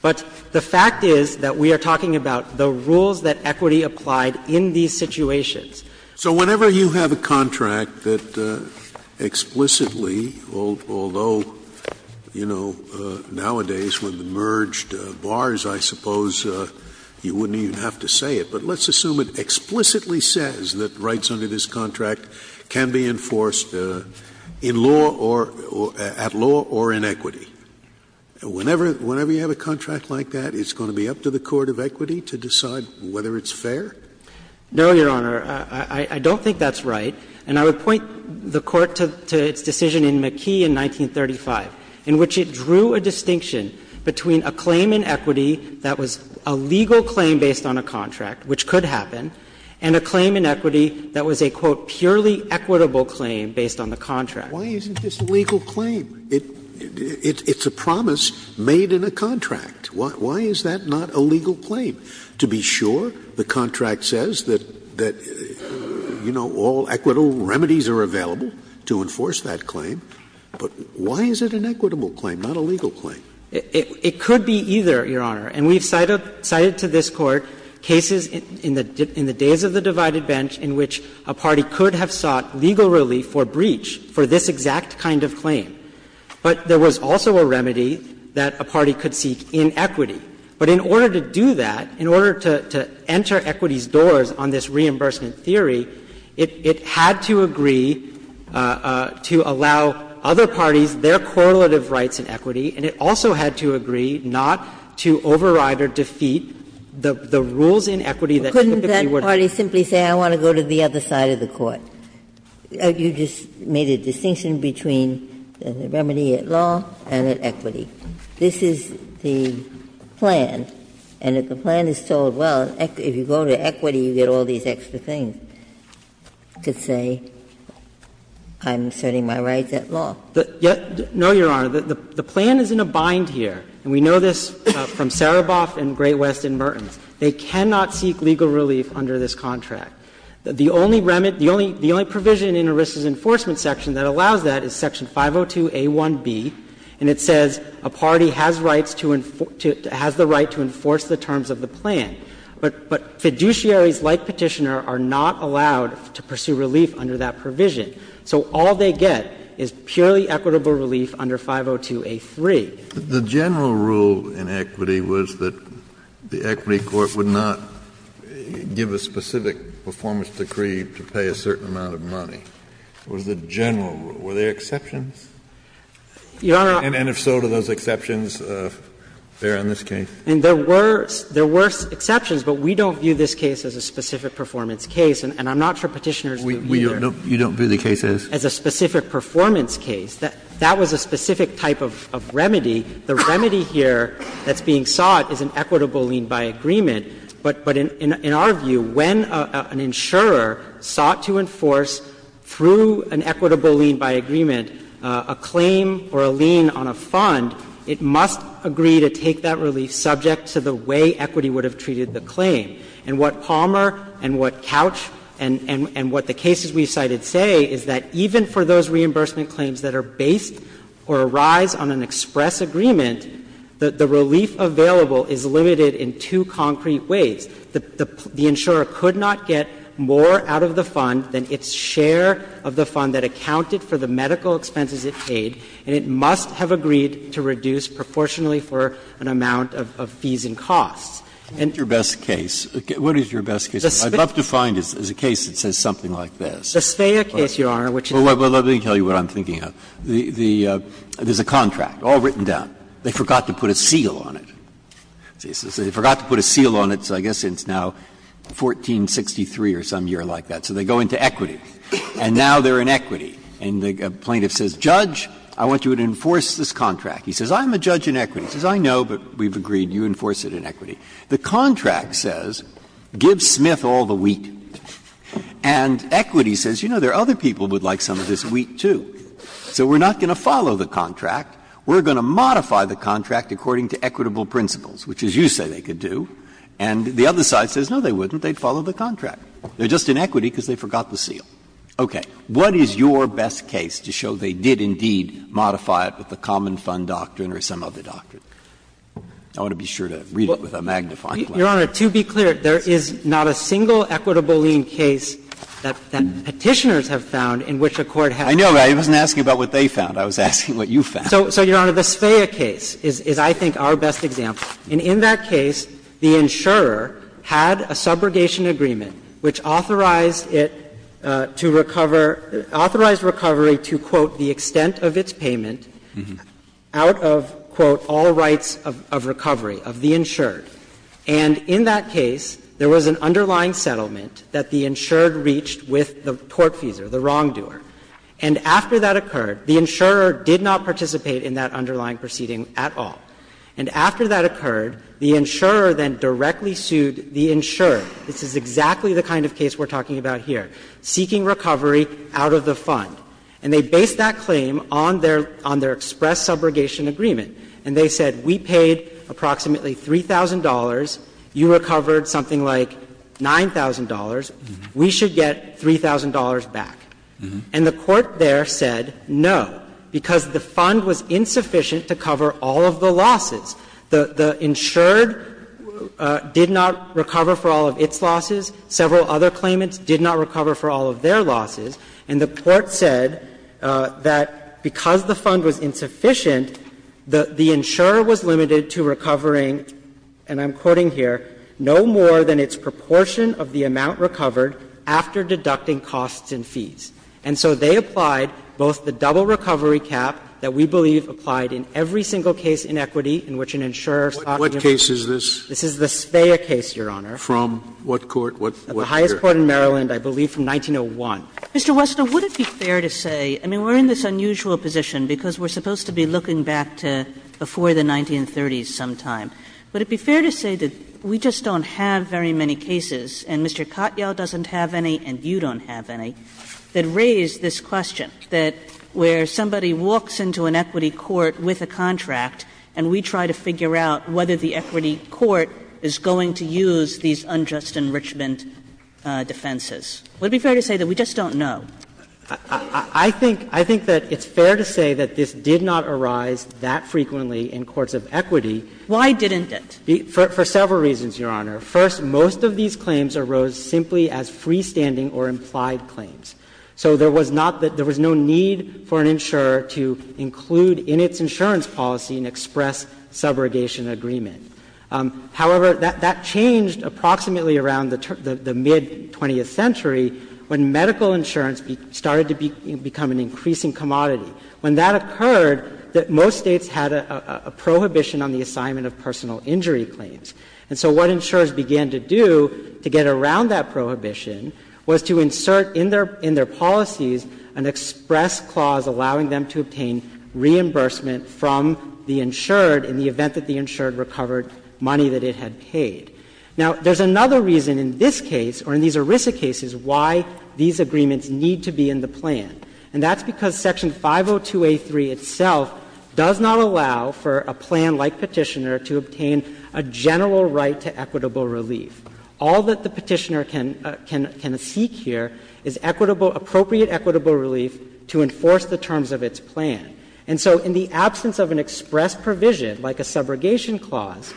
But the fact is that we are talking about the rules that equity applied in these situations. Scalia. So whenever you have a contract that explicitly, although, you know, nowadays with the merged bars, I suppose you wouldn't even have to say it, but let's assume it explicitly says that rights under this contract can be enforced in law or at law or in equity. Whenever you have a contract like that, it's going to be up to the court of equity to decide whether it's fair? No, Your Honor. I don't think that's right. And I would point the Court to its decision in McKee in 1935, in which it drew a distinction between a claim in equity that was a legal claim based on a contract, which could happen, and a claim in equity that was a, quote, purely equitable claim based on the contract. Why isn't this a legal claim? It's a promise made in a contract. Why is that not a legal claim? To be sure, the contract says that, you know, all equitable remedies are available to enforce that claim. But why is it an equitable claim, not a legal claim? It could be either, Your Honor. And we've cited to this Court cases in the days of the divided bench in which a party could have sought legal relief for breach for this exact kind of claim. But there was also a remedy that a party could seek in equity. But in order to do that, in order to enter equity's doors on this reimbursement theory, it had to agree to allow other parties their correlative rights in equity, and it also had to agree not to override or defeat the rules in equity that typically Ginsburg. Couldn't that party simply say, I want to go to the other side of the Court? You just made a distinction between the remedy at law and at equity. This is the plan, and if the plan is told, well, if you go to equity, you get all these extra things, it could say, I'm asserting my rights at law. No, Your Honor. The plan is in a bind here, and we know this from Sereboff and Great West and Mertens. They cannot seek legal relief under this contract. The only remit, the only provision in ERISA's enforcement section that allows that is section 502a1b, and it says a party has rights to enforce the terms of the plan. But fiduciaries like Petitioner are not allowed to pursue relief under that provision. So all they get is purely equitable relief under 502a3. Kennedy, The general rule in equity was that the equity court would not give a specific performance decree to pay a certain amount of money. It was the general rule. Were there exceptions? And if so, do those exceptions bear on this case? And there were exceptions, but we don't view this case as a specific performance case, and I'm not for Petitioner's view either. You don't view the case as? As a specific performance case. That was a specific type of remedy. The remedy here that's being sought is an equitable lien by agreement. But in our view, when an insurer sought to enforce through an equitable lien by agreement a claim or a lien on a fund, it must agree to take that relief subject to the way equity would have treated the claim. And what Palmer and what Couch and what the cases we cited say is that even for those reimbursement claims that are based or arise on an express agreement, the relief available is limited in two concrete ways. The insurer could not get more out of the fund than its share of the fund that accounted for the medical expenses it paid, and it must have agreed to reduce proportionally for an amount of fees and costs. Breyer. And your best case, what is your best case? I'd love to find a case that says something like this. The Speyer case, Your Honor, which is the one that I'm thinking of, there's a contract all written down. They forgot to put a seal on it. They forgot to put a seal on it, so I guess it's now 1463 or some year like that. So they go into equity, and now they're in equity. And the plaintiff says, Judge, I want you to enforce this contract. He says, I'm a judge in equity. He says, I know, but we've agreed, you enforce it in equity. The contract says, give Smith all the wheat, and equity says, you know, there are other people who would like some of this wheat, too. So we're not going to follow the contract. We're going to modify the contract according to equitable principles, which is you say they could do. And the other side says, no, they wouldn't. They'd follow the contract. They're just in equity because they forgot the seal. Okay. What is your best case to show they did indeed modify it with the common fund doctrine or some other doctrine? I want to be sure to read it with a magnifying glass. Your Honor, to be clear, there is not a single equitable lien case that Petitioners have found in which a court has not. I know. I wasn't asking about what they found. I was asking what you found. So, Your Honor, the Svea case is, I think, our best example. And in that case, the insurer had a subrogation agreement which authorized it to recover — authorized recovery to, quote, the extent of its payment out of, quote, all rights of recovery of the insured. And in that case, there was an underlying settlement that the insured reached with the tortfeasor, the wrongdoer. And after that occurred, the insurer did not participate in that underlying proceeding at all. And after that occurred, the insurer then directly sued the insured. This is exactly the kind of case we're talking about here, seeking recovery out of the fund. And they based that claim on their — on their express subrogation agreement. And they said, we paid approximately $3,000. You recovered something like $9,000. We should get $3,000 back. And the court there said no, because the fund was insufficient to cover all of the losses. The insured did not recover for all of its losses. Several other claimants did not recover for all of their losses. And the court said that because the fund was insufficient, the insurer was limited to recovering, and I'm quoting here, no more than its proportion of the amount recovered after deducting costs and fees. And so they applied both the double recovery cap that we believe applied in every single case in equity in which an insurer sought to recover. Scalia, this is the Svea case, Your Honor. Scalia, from what court? What court? The court in Maryland, I believe, from 1901. Mr. Wessner, would it be fair to say — I mean, we're in this unusual position because we're supposed to be looking back to before the 1930s sometime. Would it be fair to say that we just don't have very many cases, and Mr. Katyal doesn't have any, and you don't have any, that raise this question, that where somebody walks into an equity court with a contract and we try to figure out whether the equity defenses? Would it be fair to say that we just don't know? Wessner, I think that it's fair to say that this did not arise that frequently in courts of equity. Why didn't it? For several reasons, Your Honor. First, most of these claims arose simply as freestanding or implied claims. So there was not the — there was no need for an insurer to include in its insurance policy an express subrogation agreement. However, that changed approximately around the mid-20th century when medical insurance started to become an increasing commodity, when that occurred, that most States had a prohibition on the assignment of personal injury claims. And so what insurers began to do to get around that prohibition was to insert in their policies an express clause allowing them to obtain reimbursement from the insured in the event that the insured recovered money that it had paid. Now, there's another reason in this case or in these ERISA cases why these agreements need to be in the plan, and that's because Section 502A3 itself does not allow for a plan like Petitioner to obtain a general right to equitable relief. All that the Petitioner can seek here is equitable — appropriate equitable relief to enforce the terms of its plan. And so in the absence of an express provision like a subrogation clause,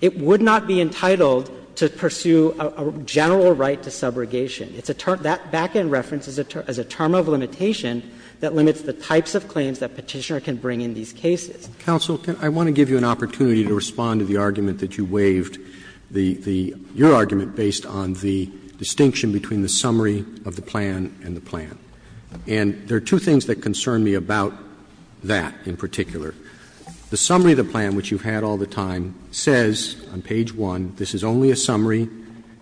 it would not be entitled to pursue a general right to subrogation. It's a term — that back-end reference is a term of limitation that limits the types of claims that Petitioner can bring in these cases. Roberts, I want to give you an opportunity to respond to the argument that you waived, the — your argument based on the distinction between the summary of the plan and the plan. And there are two things that concern me about that in particular. The summary of the plan, which you've had all the time, says on page 1, this is only a summary.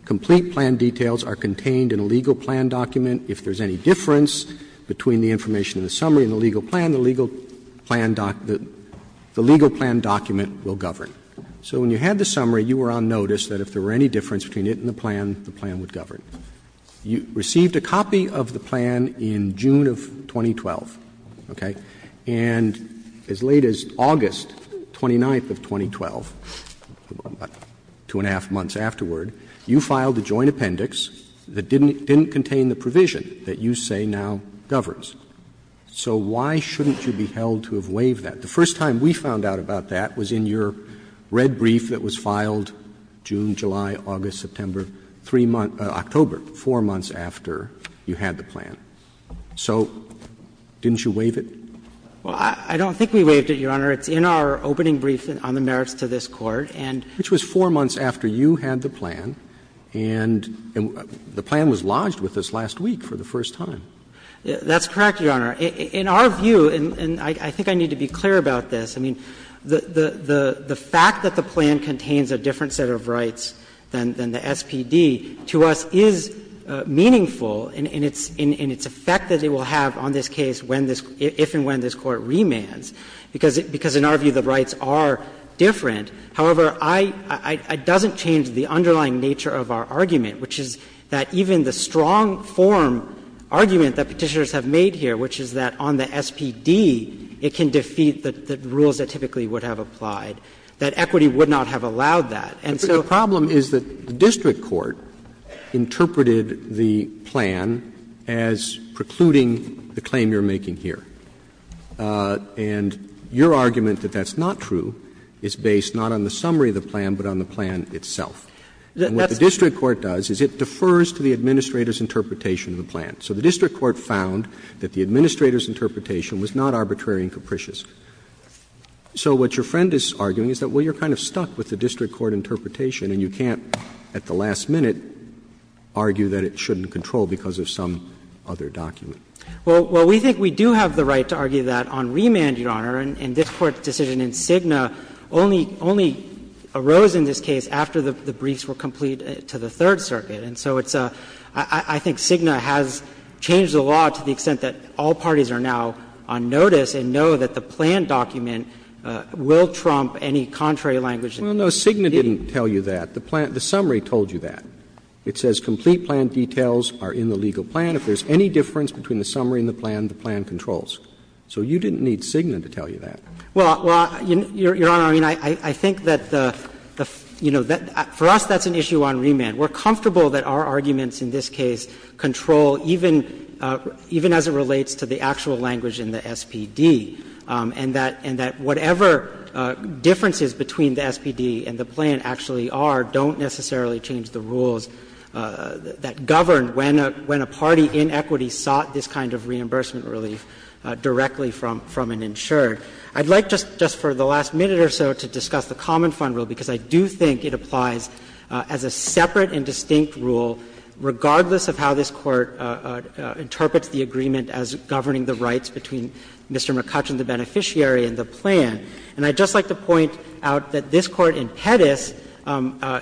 Complete plan details are contained in a legal plan document. If there's any difference between the information in the summary and the legal plan, the legal plan doc — the legal plan document will govern. So when you had the summary, you were on notice that if there were any difference between it and the plan, the plan would govern. You received a copy of the plan in June of 2012, okay? And as late as August 29th of 2012, two and a half months afterward, you filed a joint appendix that didn't contain the provision that you say now governs. So why shouldn't you be held to have waived that? The first time we found out about that was in your red brief that was filed June, October, four months after you had the plan. So didn't you waive it? Well, I don't think we waived it, Your Honor. It's in our opening brief on the merits to this Court, and — Which was four months after you had the plan, and the plan was lodged with us last week for the first time. That's correct, Your Honor. In our view, and I think I need to be clear about this, I mean, the fact that the plan contains a different set of rights than the SPD to us is meaningful in its effect that it will have on this case if and when this Court remands, because in our view the rights are different. However, it doesn't change the underlying nature of our argument, which is that even the strong form argument that Petitioners have made here, which is that on the SPD, it can defeat the rules that typically would have applied, that equity would not have allowed that. And so the problem is that the district court interpreted the plan as precluding the claim you're making here. And your argument that that's not true is based not on the summary of the plan, but on the plan itself. And what the district court does is it defers to the administrator's interpretation of the plan. was not arbitrary and capricious. So what your friend is arguing is that, well, you're kind of stuck with the district court interpretation and you can't, at the last minute, argue that it shouldn't control because of some other document. Well, we think we do have the right to argue that on remand, Your Honor, and this Court's decision in Cigna only arose in this case after the briefs were completed to the Third Circuit. And so it's a — I think Cigna has changed the law to the extent that all parties are now on notice and know that the plan document will trump any contrary language that the district did. Well, no, Cigna didn't tell you that. The plan — the summary told you that. It says complete plan details are in the legal plan. If there's any difference between the summary and the plan, the plan controls. So you didn't need Cigna to tell you that. Well, Your Honor, I mean, I think that the — you know, for us, that's an issue on remand. We're comfortable that our arguments in this case control, even as it relates to the actual language in the SPD, and that whatever differences between the SPD and the plan actually are don't necessarily change the rules that govern when a party in equity sought this kind of reimbursement relief directly from an insured. I'd like just for the last minute or so to discuss the common fund rule, because I do think it applies as a separate and distinct rule, regardless of how this Court interprets the agreement as governing the rights between Mr. McCutcheon, the beneficiary, and the plan. And I'd just like to point out that this Court in Pettis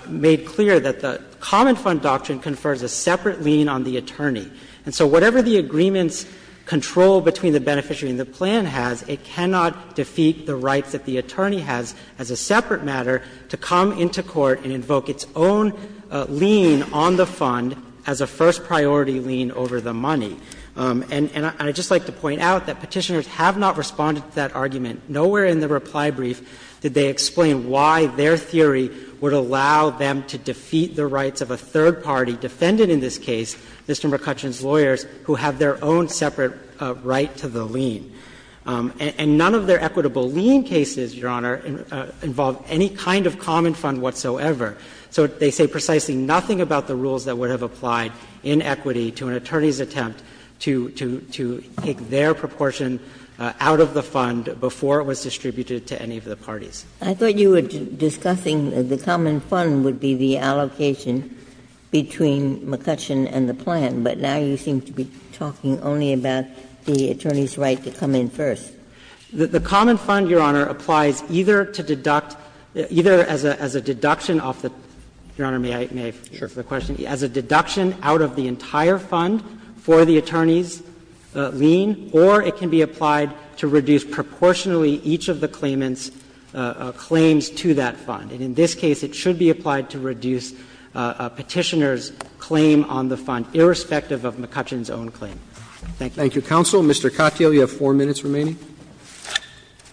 made clear that the common fund doctrine confers a separate lien on the attorney. And so whatever the agreement's control between the beneficiary and the plan has, it cannot defeat the rights that the attorney has as a separate matter to come into court and invoke its own lien on the fund as a first-priority lien over the money. And I'd just like to point out that Petitioners have not responded to that argument. Nowhere in the reply brief did they explain why their theory would allow them to defeat the rights of a third party defendant in this case, Mr. McCutcheon's lawyers, who have their own separate right to the lien. And none of their equitable lien cases, Your Honor, involve any kind of common fund whatsoever. So they say precisely nothing about the rules that would have applied in equity to an attorney's attempt to take their proportion out of the fund before it was distributed to any of the parties. Ginsburg. I thought you were discussing the common fund would be the allocation between McCutcheon and the plan, but now you seem to be talking only about the attorney's right to come in first. The common fund, Your Honor, applies either to deduct, either as a deduction off the, Your Honor, may I, may I answer the question, as a deduction out of the entire fund for the attorney's lien, or it can be applied to reduce proportionally each of the claimant's claims to that fund. And in this case, it should be applied to reduce Petitioners' claim on the fund, irrespective of McCutcheon's own claim. Thank you. Roberts. Thank you, counsel. Mr. Katyal, you have four minutes remaining.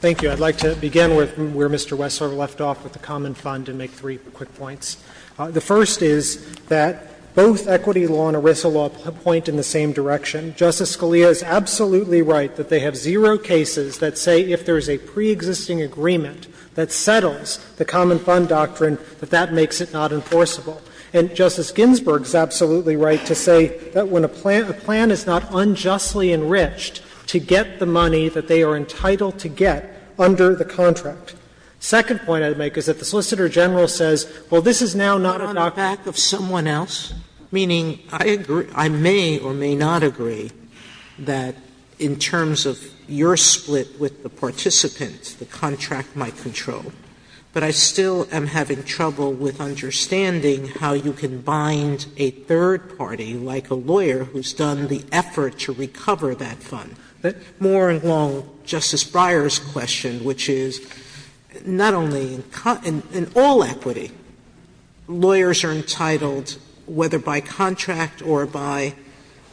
Thank you. I'd like to begin where Mr. Wessler left off with the common fund and make three quick points. The first is that both equity law and ERISA law point in the same direction. Justice Scalia is absolutely right that they have zero cases that say if there is a preexisting agreement that settles the common fund doctrine, that that makes it not enforceable. And Justice Ginsburg is absolutely right to say that when a plan, a plan is not unjustly enriched to get the money that they are entitled to get under the contract. The second point I would make is that the Solicitor General says, well, this is now not a doctrine. Sotomayor, on the back of someone else, meaning I agree, I may or may not agree that in terms of your split with the participant, the contract might control. But I still am having trouble with understanding how you can bind a third party, like a lawyer, who's done the effort to recover that fund. More along Justice Breyer's question, which is not only in all equity, lawyers are entitled, whether by contract or by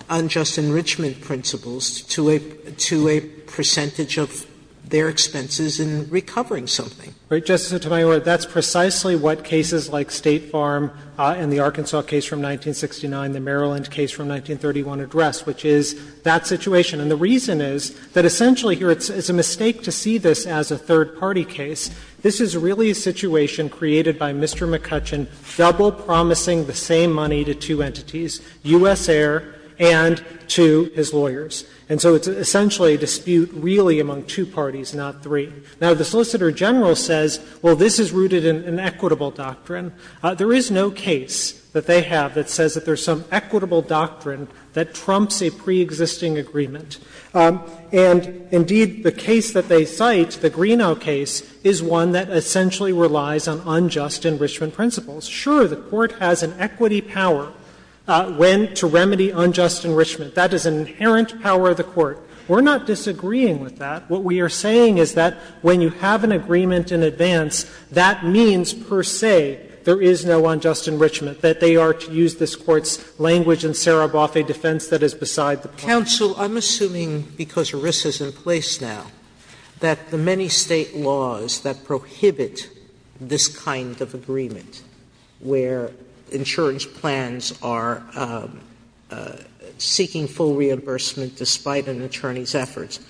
unjust enrichment principles, to a percentage of their expenses in recovering something. Right, Justice Sotomayor, that's precisely what cases like State Farm and the Arkansas case from 1969, the Maryland case from 1931 address, which is that situation. And the reason is that essentially here, it's a mistake to see this as a third party case. This is really a situation created by Mr. McCutcheon double promising the same money to two entities, U.S. Air and to his lawyers. And so it's essentially a dispute really among two parties, not three. Now, the Solicitor General says, well, this is rooted in an equitable doctrine. There is no case that they have that says that there's some equitable doctrine that trumps a preexisting agreement. And indeed, the case that they cite, the Greenough case, is one that essentially relies on unjust enrichment principles. Sure, the Court has an equity power when to remedy unjust enrichment. That is an inherent power of the Court. We're not disagreeing with that. What we are saying is that when you have an agreement in advance, that means, per se, there is no unjust enrichment, that they are, to use this Court's language, in Sereboff, a defense that is beside the point. Sotomayor, I'm assuming, because ERISA is in place now, that the many State laws that prohibit this kind of agreement, where insurance plans are seeking full reimbursement despite an attorney's efforts,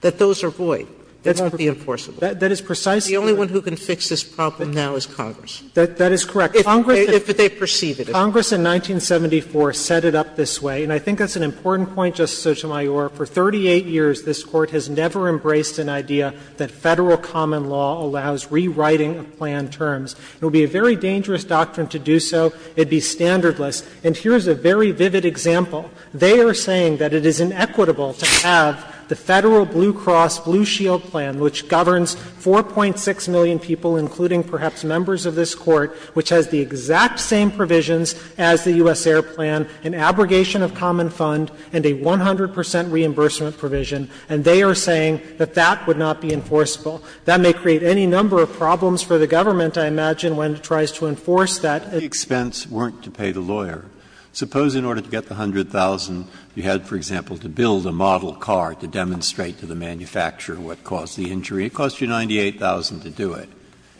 that those are void, that's pretty enforceable. That is precisely what we're saying. The only one who can fix this problem now is Congress. That is correct. If Congress in 1974 set it up this way, and I think that's an important point, Justice Sotomayor, for 38 years this Court has never embraced an idea that Federal common law allows rewriting of plan terms. It would be a very dangerous doctrine to do so. It would be standardless. And here is a very vivid example. They are saying that it is inequitable to have the Federal Blue Cross Blue Shield plan, which governs 4.6 million people, including perhaps members of this Court, which has the exact same provisions as the U.S. Air Plan, an abrogation of common fund, and a 100 percent reimbursement provision. And they are saying that that would not be enforceable. That may create any number of problems for the government, I imagine, when it tries to enforce that. Breyer. If the expense weren't to pay the lawyer, suppose in order to get the $100,000 you had, for example, to build a model car to demonstrate to the manufacturer what caused the injury, it costs you $98,000 to do it,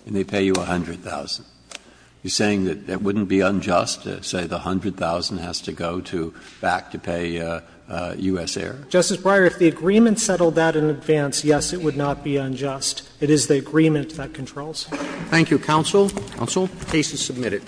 and they pay you $100,000. You are saying that it wouldn't be unjust to say the $100,000 has to go to back to pay U.S. Air? Justice Breyer, if the agreement settled that in advance, yes, it would not be unjust. It is the agreement that controls. Thank you, counsel. Counsel. The case is submitted.